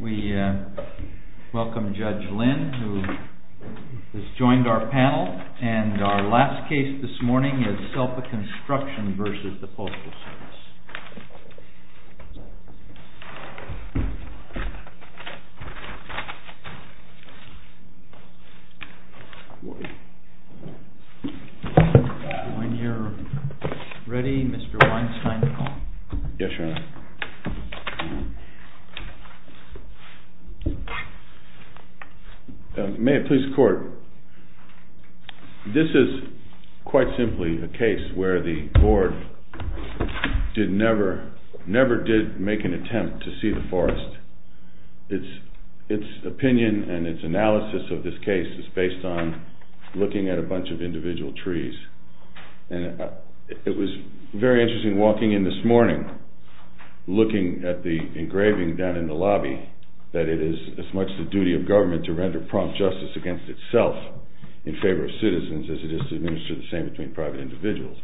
We welcome Judge Lynn, who has joined our panel, and our last case this morning is SELPA CONSTRUCTION V USPS. When you're ready, Mr. Weinstein, call. Yes, Your Honor. May it please the Court, this is quite simply a case where the board never did make an attempt to see the forest. Its opinion and its analysis of this case is based on looking at a bunch of individual trees. It was very interesting walking in this morning, looking at the engraving down in the lobby, that it is as much the duty of government to render prompt justice against itself in favor of citizens as it is to administer the same between private individuals.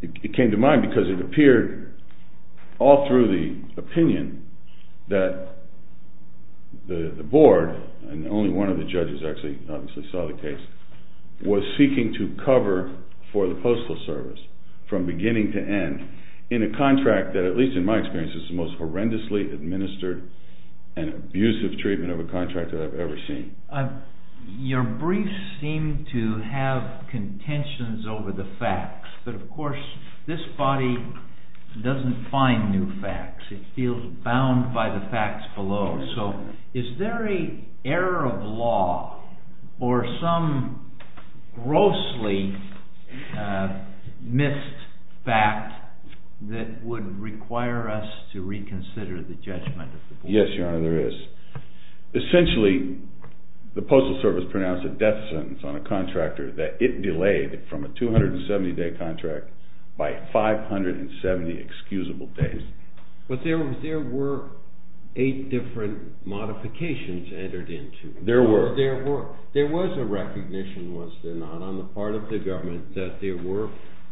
It came to mind because it appeared all through the opinion that the board, and only one of the judges actually saw the case, was seeking to cover for the Postal Service from beginning to end in a contract that, at least in my experience, is the most horrendously administered and abusive treatment of a contract that I've ever seen. Your briefs seem to have contentions over the facts, but of course this body doesn't find new facts. It feels bound by the facts below. So is there an error of law or some grossly missed fact that would require us to reconsider the judgment of the board? Yes, Your Honor, there is. Essentially, the Postal Service pronounced a death sentence on a contractor that it delayed from a 270-day contract by 570 excusable days. But there were eight different modifications entered into. There were. There was a recognition, was there not, on the part of the government that there were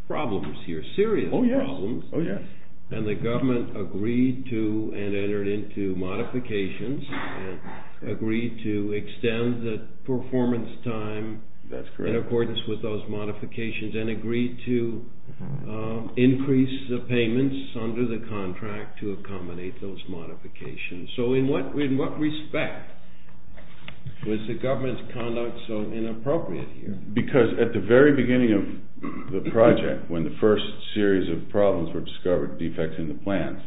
problems here, serious problems. Oh yes, oh yes. And the government agreed to and entered into modifications and agreed to extend the performance time in accordance with those modifications and agreed to increase the payments under the contract to accommodate those modifications. So in what respect was the government's conduct so inappropriate here? Because at the very beginning of the project, when the first series of problems were discovered, defects in the plans,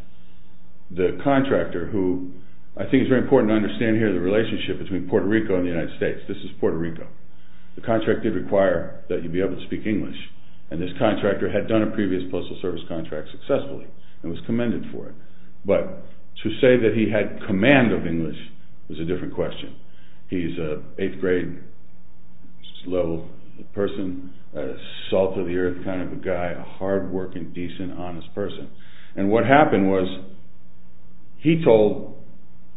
the contractor who, I think it's very important to understand here the relationship between Puerto Rico and the United States. This is Puerto Rico. The contractor did require that he be able to speak English. And this contractor had done a previous Postal Service contract successfully and was commended for it. But to say that he had command of English is a different question. He's an eighth grade, slow person, salt of the earth kind of a guy, a hardworking, decent, honest person. And what happened was he told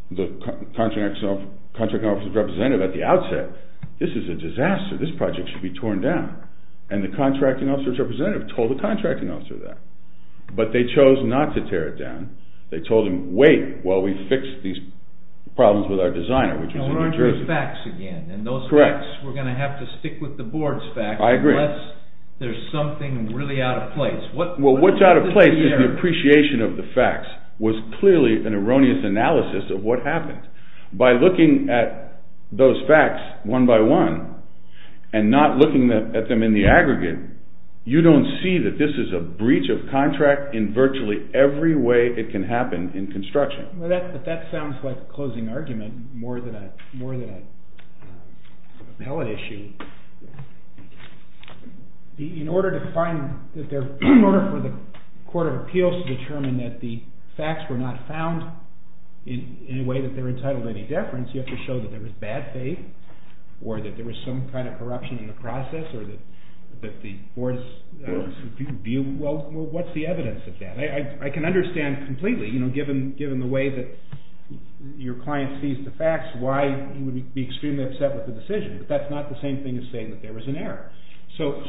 the contracting officer's representative at the outset, this is a disaster, this project should be torn down. And the contracting officer's representative told the contracting officer that. But they chose not to tear it down. They told him, wait while we fix these problems with our designer, which was in New Jersey. And what are those facts again? Correct. And those facts, we're going to have to stick with the board's facts. I agree. Unless there's something really out of place. Well, what's out of place is the appreciation of the facts was clearly an erroneous analysis of what happened. By looking at those facts one by one and not looking at them in the aggregate, you don't see that this is a breach of contract in virtually every way it can happen in construction. But that sounds like a closing argument more than an appellate issue. In order for the court of appeals to determine that the facts were not found in a way that they're entitled to any deference, you have to show that there was bad faith or that there was some kind of corruption in the process or that the board's view, well what's the evidence of that? I can understand completely, given the way that your client sees the facts, why he would be extremely upset with the decision. But that's not the same thing as saying that there was an error. So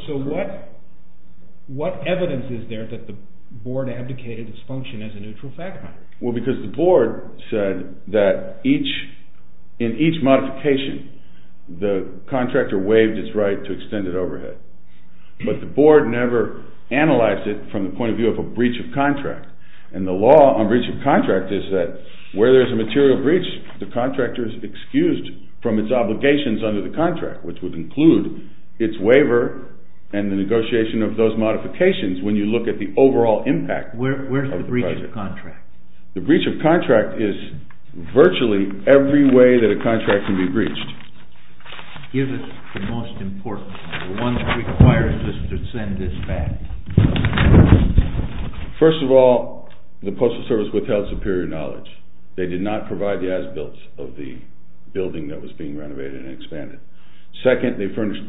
what evidence is there that the board abdicated its function as a neutral fact finder? Well, because the board said that in each modification the contractor waived its right to extended overhead. But the board never analyzed it from the point of view of a breach of contract. And the law on breach of contract is that where there's a material breach, the contractor is excused from its obligations under the contract, which would include its waiver and the negotiation of those modifications when you look at the overall impact. Where's the breach of contract? The breach of contract is virtually every way that a contract can be breached. Give us the most important one that requires us to send this back. First of all, the Postal Service withheld superior knowledge. They did not provide the as-builts of the building that was being renovated and expanded. Second, they furnished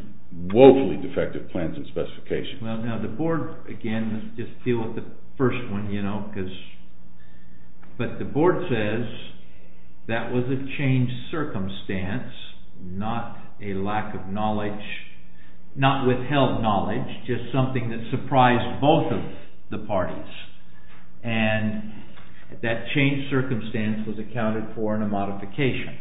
woefully defective plans and specifications. The board, again, let's just deal with the first one. But the board says that was a changed circumstance, not a lack of knowledge, not withheld knowledge, just something that surprised both of the parties. And that changed circumstance was accounted for in a modification.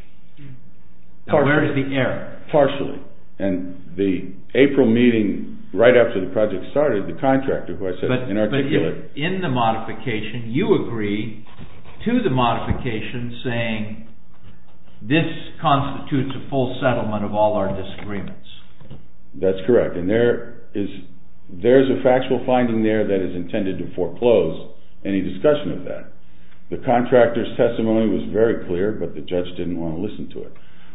Now where is the error? Partially. And the April meeting right after the project started, the contractor who I said is inarticulate. But in the modification, you agree to the modification saying this constitutes a full settlement of all our disagreements. That's correct. And there is a factual finding there that is intended to foreclose any discussion of that. The contractor's testimony was very clear, but the judge didn't want to listen to it.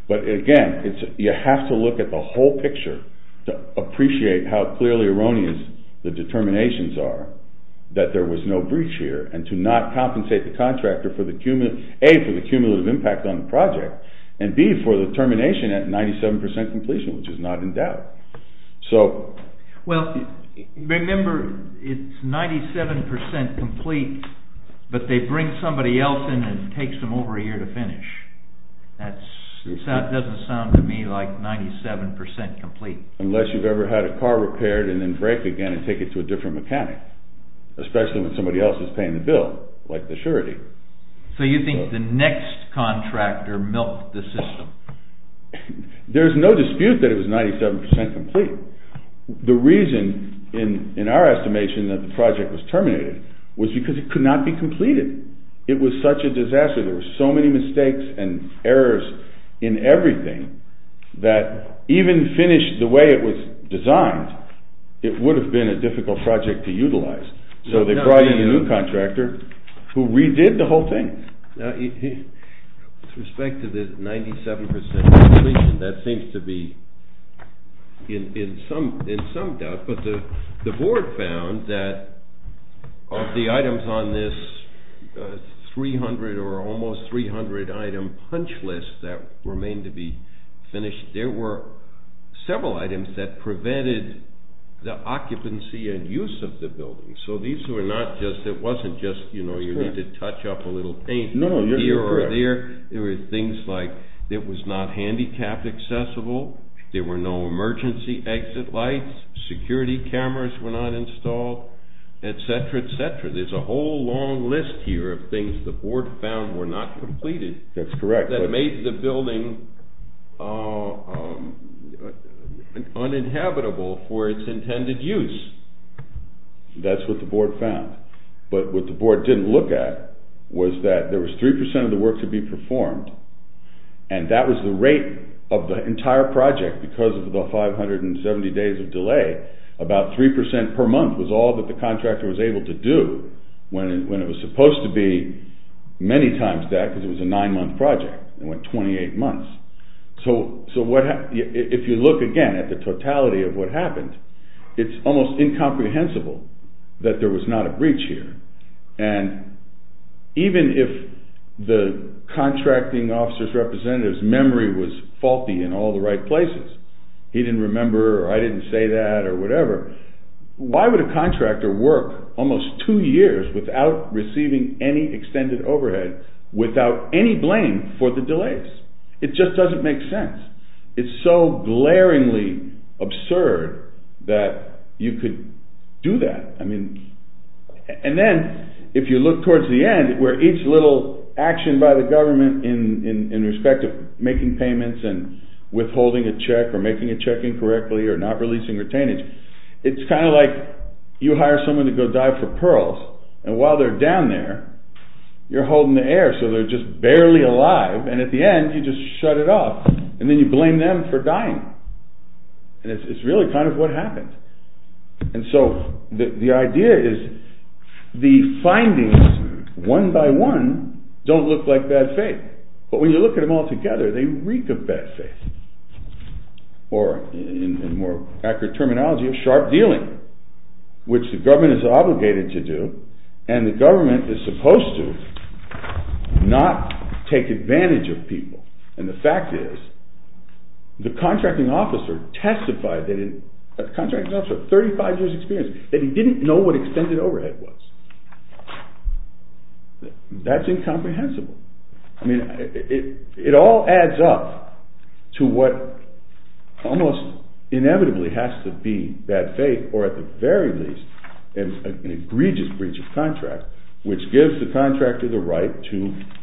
But again, you have to look at the whole picture to appreciate how clearly erroneous the determinations are that there was no breach here and to not compensate the contractor, A, for the cumulative impact on the project, and B, for the termination at 97% completion, which is not in doubt. Remember, it's 97% complete, but they bring somebody else in and it takes them over a year to finish. That doesn't sound to me like 97% complete. Unless you've ever had a car repaired and then break again and take it to a different mechanic, especially when somebody else is paying the bill, like the surety. So you think the next contractor milked the system? There's no dispute that it was 97% complete. The reason, in our estimation, that the project was terminated was because it could not be completed. It was such a disaster. There were so many mistakes and errors in everything that even finished the way it was designed, it would have been a difficult project to utilize. So they brought in a new contractor who redid the whole thing. With respect to the 97% completion, that seems to be in some doubt. The board found that of the items on this 300 or almost 300 item punch list that remained to be finished, there were several items that prevented the occupancy and use of the building. So these were not just, it wasn't just, you know, you need to touch up a little paint here or there. There were things like it was not handicapped accessible, there were no emergency exit lights, security cameras were not installed, etc., etc. There's a whole long list here of things the board found were not completed. That's correct. That made the building uninhabitable for its intended use. That's what the board found. But what the board didn't look at was that there was 3% of the work to be performed, and that was the rate of the entire project because of the 570 days of delay. About 3% per month was all that the contractor was able to do when it was supposed to be many times that because it was a 9-month project. It went 28 months. So if you look again at the totality of what happened, it's almost incomprehensible that there was not a breach here. And even if the contracting officer's representative's memory was faulty in all the right places, he didn't remember or I didn't say that or whatever, why would a contractor work almost 2 years without receiving any extended overhead, without any blame for the delays? It just doesn't make sense. It's so glaringly absurd that you could do that. And then if you look towards the end where each little action by the government in respect of making payments and withholding a check or making a check incorrectly or not releasing retainage, it's kind of like you hire someone to go dive for pearls, and while they're down there, you're holding the air so they're just barely alive, and at the end you just shut it off, and then you blame them for dying. And it's really kind of what happened. And so the idea is the findings, one by one, don't look like bad faith. But when you look at them all together, they reek of bad faith, or in more accurate terminology, of sharp dealing, which the government is obligated to do, and the government is supposed to not take advantage of people. And the fact is, the contracting officer testified, the contracting officer had 35 years' experience, that he didn't know what extended overhead was. That's incomprehensible. I mean, it all adds up to what almost inevitably has to be bad faith, or at the very least, an egregious breach of contract, which gives the contractor the right to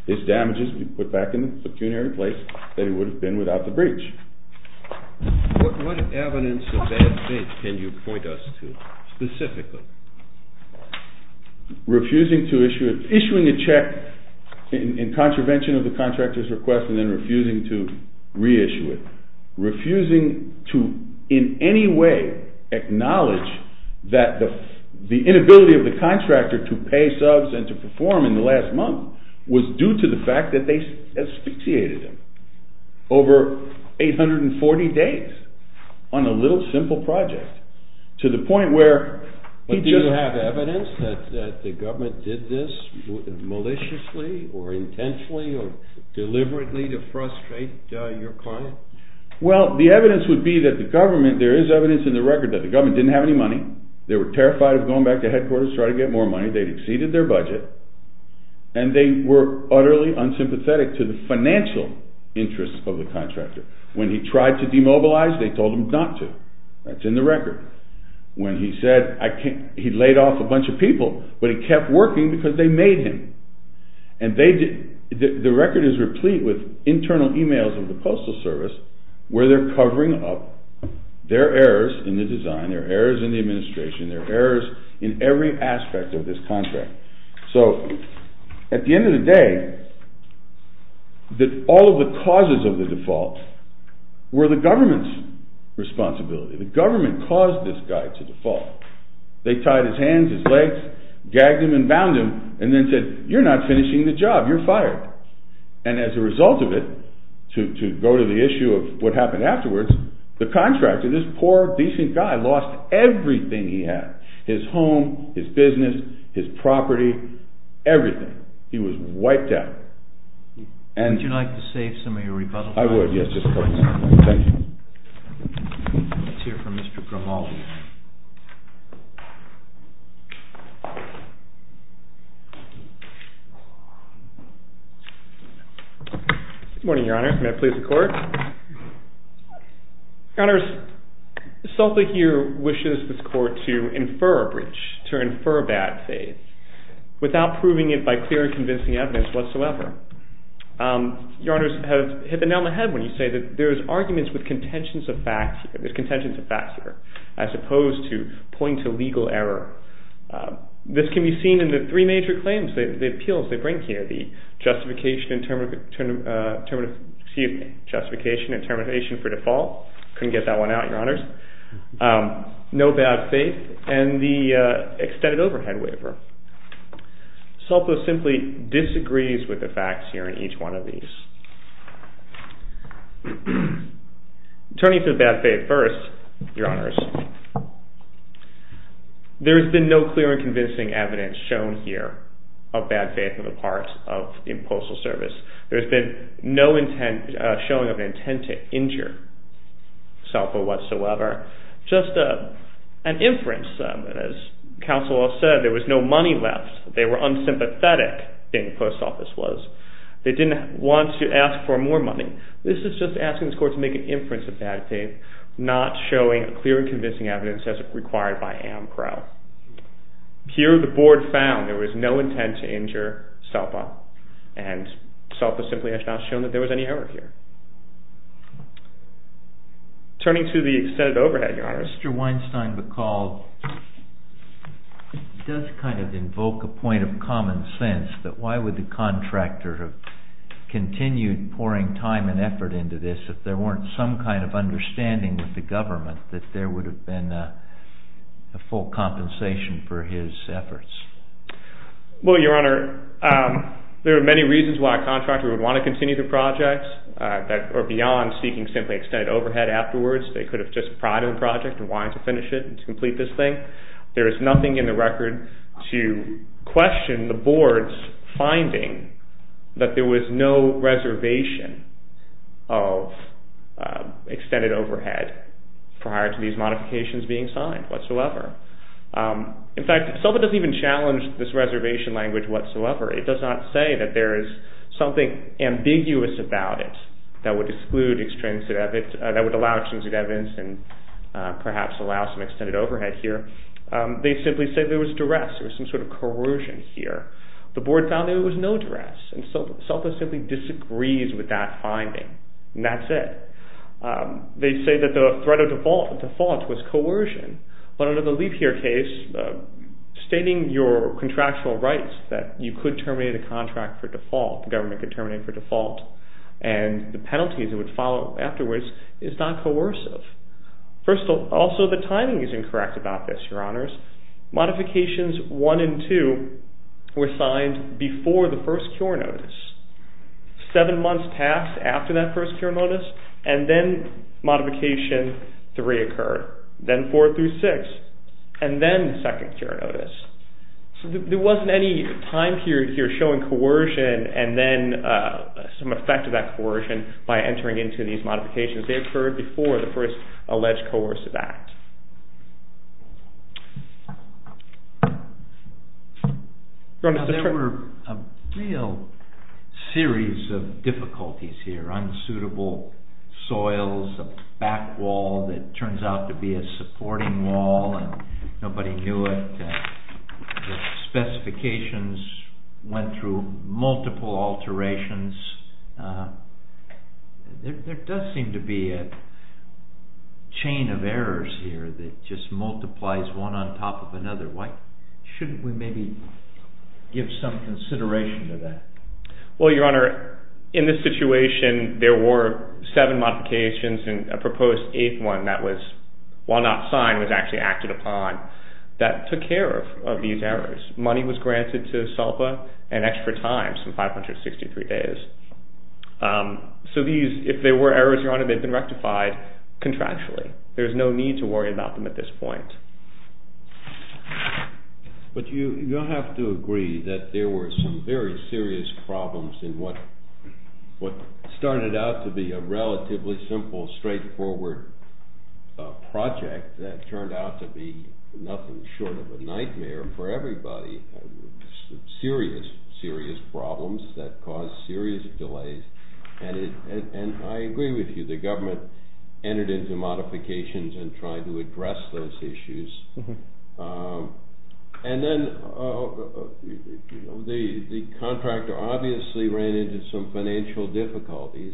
his damages to be put back in the pecuniary place that it would have been without the breach. What evidence of bad faith can you point us to, specifically? Refusing to issue a check in contravention of the contractor's request, and then refusing to reissue it. Refusing to, in any way, acknowledge that the inability of the contractor to pay subs and to perform in the last month was due to the fact that they asphyxiated him over 840 days on a little simple project. To the point where... But do you have evidence that the government did this maliciously, or intentionally, or deliberately to frustrate your client? Well, the evidence would be that the government, there is evidence in the record, that the government didn't have any money, they were terrified of going back to headquarters to try to get more money, they'd exceeded their budget, and they were utterly unsympathetic to the financial interests of the contractor. When he tried to demobilize, they told him not to. That's in the record. When he said, he laid off a bunch of people, but he kept working because they made him. And the record is replete with internal emails of the Coastal Service where they're covering up their errors in the design, their errors in the administration, their errors in every aspect of this contract. So, at the end of the day, all of the causes of the default were the government's responsibility. The government caused this guy to default. They tied his hands, his legs, gagged him and bound him, and then said, you're not finishing the job, you're fired. And as a result of it, to go to the issue of what happened afterwards, the contractor, this poor, decent guy, lost everything he had. His home, his business, his property, everything. He was wiped out. Would you like to say some of your rebuttals? I would, yes, just a couple. Let's hear from Mr. Grimaldi. Good morning, Your Honor. May I please the Court? Your Honors, Sulta here wishes this Court to infer a bridge, to infer a bad faith, without proving it by clear and convincing evidence whatsoever. Your Honors have hit the nail on the head when you say that there's arguments with contentions of facts here, there's contentions of facts here, as opposed to pointing to legal error. This can be seen in the three major cases. The three claims, the appeals they bring here, the justification and termination for default, couldn't get that one out, Your Honors, no bad faith, and the extended overhead waiver. Sulta simply disagrees with the facts here in each one of these. Turning to the bad faith first, Your Honors, there's been no clear and convincing evidence shown here of bad faith on the part of the Postal Service. There's been no showing of an intent to injure Sulta whatsoever, just an inference. As counsel all said, there was no money left. They were unsympathetic, the Post Office was. They didn't want to ask for more money. This is just asking this Court to make an inference of bad faith, not showing clear and convincing evidence as required by AMPRO. Here the Board found there was no intent to injure Sulta, and Sulta simply has not shown that there was any error here. Turning to the extended overhead, Your Honors. Mr. Weinstein-Bacall does kind of invoke a point of common sense that why would the contractor have continued pouring time and effort into this if there weren't some kind of understanding with the government that there would have been a full compensation for his efforts? Well, Your Honor, there are many reasons why a contractor would want to continue the project, or beyond seeking simply extended overhead afterwards. They could have just prided the project and wanted to finish it and complete this thing. There is nothing in the record to question the Board's finding that there was no reservation of extended overhead prior to these modifications being signed whatsoever. In fact, Sulta doesn't even challenge this reservation language whatsoever. It does not say that there is something ambiguous about it that would exclude extrinsic evidence, that would allow extrinsic evidence and perhaps allow some extended overhead here. They simply say there was duress, there was some sort of corrosion here. The Board found there was no duress, and Sulta simply disagrees with that finding. And that's it. They say that the threat of default was coercion, but under the Leap Year case, stating your contractual rights that you could terminate a contract for default, the government could terminate it for default, and the penalties it would follow afterwards is not coercive. Also, the timing is incorrect about this, Your Honors. Modifications 1 and 2 were signed before the first cure notice. Seven months passed after that first cure notice, and then modification 3 occurred, then 4 through 6, and then the second cure notice. So there wasn't any time period here showing coercion and then some effect of that coercion by entering into these modifications. They occurred before the first alleged coercive act. There were a real series of difficulties here. Unsuitable soils, a back wall that turns out to be a supporting wall, and nobody knew it. Specifications went through multiple alterations. There does seem to be a chain of errors here that just multiplies one on top of another. Why shouldn't we maybe give some consideration to that? Well, Your Honor, in this situation, there were seven modifications and a proposed eighth one that was, while not signed, was actually acted upon that took care of these errors. Money was granted to SELPA and extra time, some 563 days. So if there were errors, Your Honor, they've been rectified contractually. There's no need to worry about them at this point. But you have to agree that there were some very serious problems in what started out to be a relatively simple, straightforward project that turned out to be nothing short of a nightmare for everybody. Serious, serious problems that caused serious delays. And I agree with you. The government entered into modifications and tried to address those issues. And then the contractor obviously ran into some financial difficulties.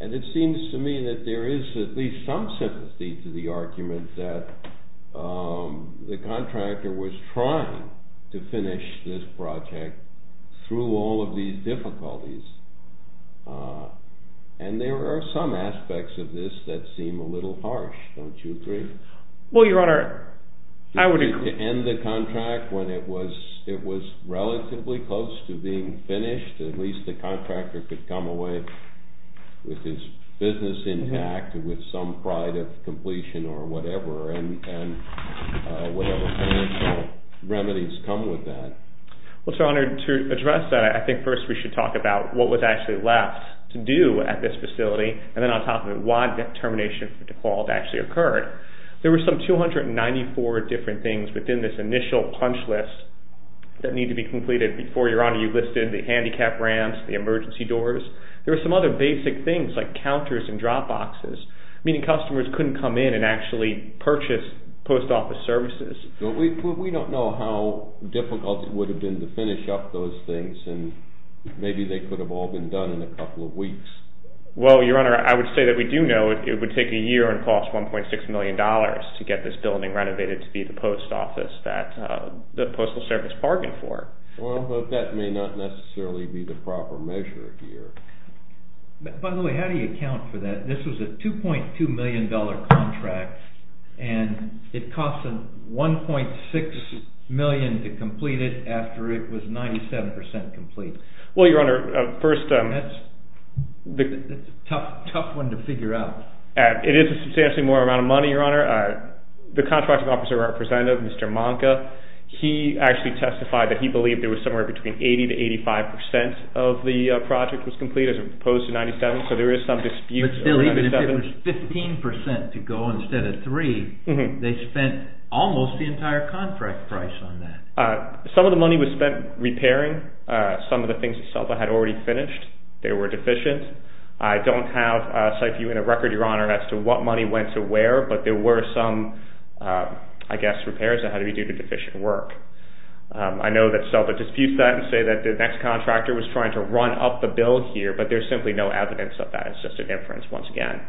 And it seems to me that there is at least some sympathy to the argument that the contractor was trying to finish this project through all of these difficulties. And there are some aspects of this that seem a little harsh. Don't you agree? Well, Your Honor, I would agree. To end the contract when it was relatively close to being finished, at least the contractor could come away with his business intact and with some pride of completion or whatever and whatever financial remedies come with that. Well, it's an honor to address that. I think first we should talk about what was actually left to do at this facility and then on top of it, why that termination default actually occurred. There were some 294 different things within this initial punch list that need to be completed before, Your Honor, you listed the handicap ramps, the emergency doors. There were some other basic things like counters and drop boxes, meaning customers couldn't come in and actually purchase post office services. We don't know how difficult it would have been to finish up those things and maybe they could have all been done in a couple of weeks. Well, Your Honor, I would say that we do know it would take a year and cost $1.6 million to get this building renovated to be the post office that the Postal Service bargained for. Well, that may not necessarily be the proper measure here. By the way, how do you account for that? This was a $2.2 million contract and it cost $1.6 million to complete it after it was 97% complete. Well, Your Honor, first... That's a tough one to figure out. It is a substantially more amount of money, Your Honor. The contracting officer representative, Mr. Manka, he actually testified that he believed there was somewhere between 80% to 85% of the project was complete as opposed to 97%, so there is some dispute. But still, even if it was 15% to go instead of 3%, they spent almost the entire contract price on that. Some of the money was spent repairing some of the things that Selva had already finished. They were deficient. I don't have a site view and a record, Your Honor, as to what money went to where, but there were some, I guess, repairs that had to be due to deficient work. I know that Selva disputes that and say that the next contractor was trying to run up the bill here, but there's simply no evidence of that. It's just an inference, once again.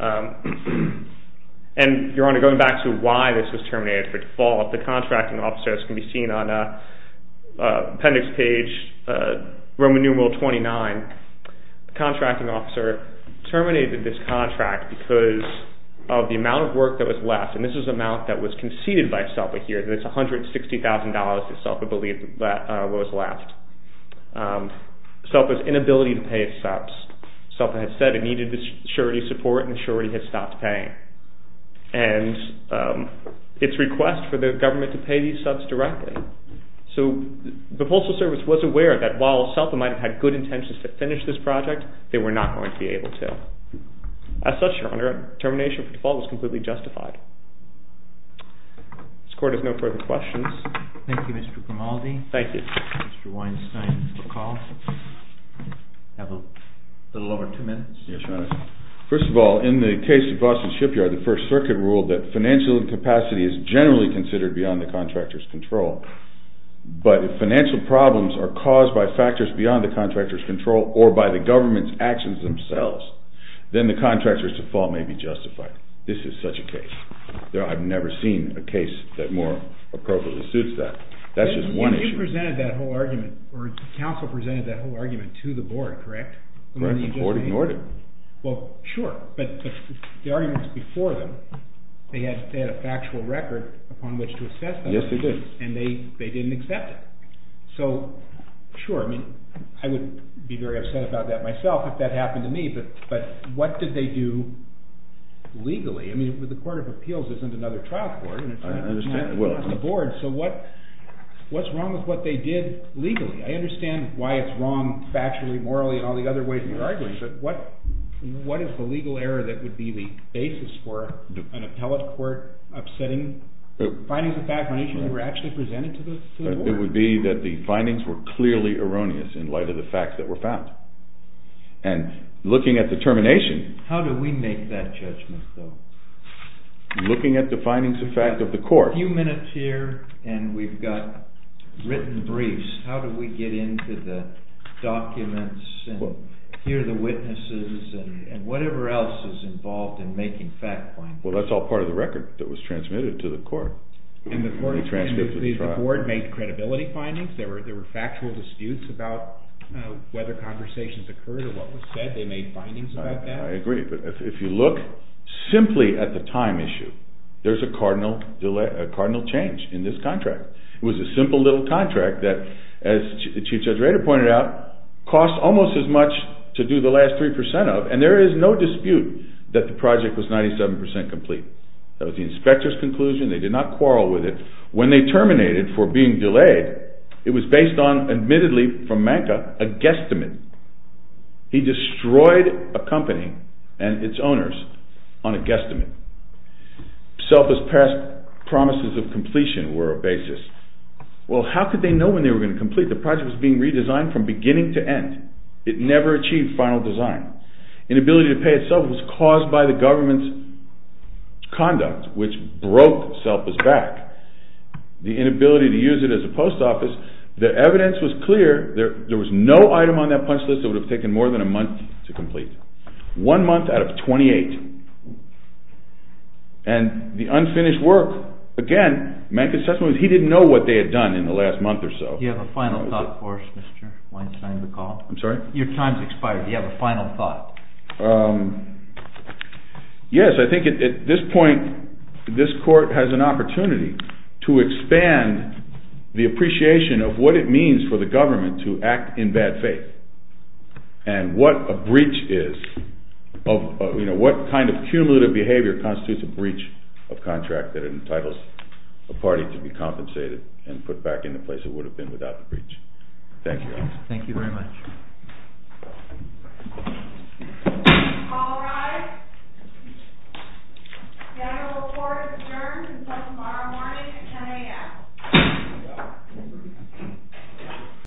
And, Your Honor, going back to why this was terminated. By default, the contracting officer, as can be seen on the appendix page, Roman numeral 29, the contracting officer terminated this contract because of the amount of work that was left. And this was the amount that was conceded by Selva here, that it's $160,000 that Selva believed was left. Selva's inability to pay its subs. Selva had said it needed the surety support and surety had stopped paying. And its request for the government to pay these subs directly. So the Postal Service was aware that while Selva might have had good intentions to finish this project, they were not going to be able to. As such, Your Honor, termination by default was completely justified. This Court has no further questions. Thank you, Mr. Grimaldi. Thank you. Mr. Weinstein, you have a call. You have a little over two minutes. Yes, Your Honor. First of all, in the case of Boston Shipyard, the First Circuit ruled that financial incapacity is generally considered beyond the contractor's control. But if financial problems are caused by factors beyond the contractor's control or by the government's actions themselves, then the contractor's default may be justified. This is such a case. I've never seen a case that more appropriately suits that. That's just one issue. You presented that whole argument, or counsel presented that whole argument to the Board, correct? Correct. The Board ignored it. Well, sure. But the arguments before them, they had a factual record upon which to assess them. Yes, they did. And they didn't accept it. So, sure, I mean, I would be very upset about that myself if that happened to me. But what did they do legally? I mean, the Court of Appeals isn't another trial court. I understand. It's the Board. So what's wrong with what they did legally? I understand why it's wrong factually, morally, and all the other ways in which you're arguing. But what is the legal error that would be the basis when they were actually presented to the Board? It would be that the findings were clearly erroneous in light of the facts that were found. And looking at the termination... How do we make that judgment, though? Looking at the findings of fact of the court... A few minutes here, and we've got written briefs. How do we get into the documents and hear the witnesses and whatever else is involved in making fact findings? Well, that's all part of the record that was transmitted to the court. And the Board made credibility findings? There were factual disputes about whether conversations occurred or what was said? They made findings about that? I agree. But if you look simply at the time issue, there's a cardinal change in this contract. It was a simple little contract that, as Chief Judge Rader pointed out, cost almost as much to do the last 3% of, and there is no dispute that the project was 97% complete. That was the inspector's conclusion. They did not quarrel with it. When they terminated for being delayed, it was based on, admittedly, from Manka, a guesstimate. He destroyed a company and its owners on a guesstimate. Selfless past promises of completion were a basis. Well, how could they know when they were going to complete? The project was being redesigned from beginning to end. It never achieved final design. Inability to pay itself was caused by the government's conduct, which broke selfless back. The inability to use it as a post office. The evidence was clear. There was no item on that punch list that would have taken more than a month to complete. One month out of 28. And the unfinished work. Again, Manka's testimony was he didn't know what they had done in the last month or so. Do you have a final thought for us, Mr. Weinstein, to call? I'm sorry? Your time has expired. Do you have a final thought? Yes. I think at this point, this court has an opportunity to expand the appreciation of what it means for the government to act in bad faith. And what a breach is, what kind of cumulative behavior constitutes a breach of contract that entitles a party to be compensated and put back in the place it would have been without the breach. Thank you. Thank you very much. All rise. General report adjourned until tomorrow morning at 10 a.m.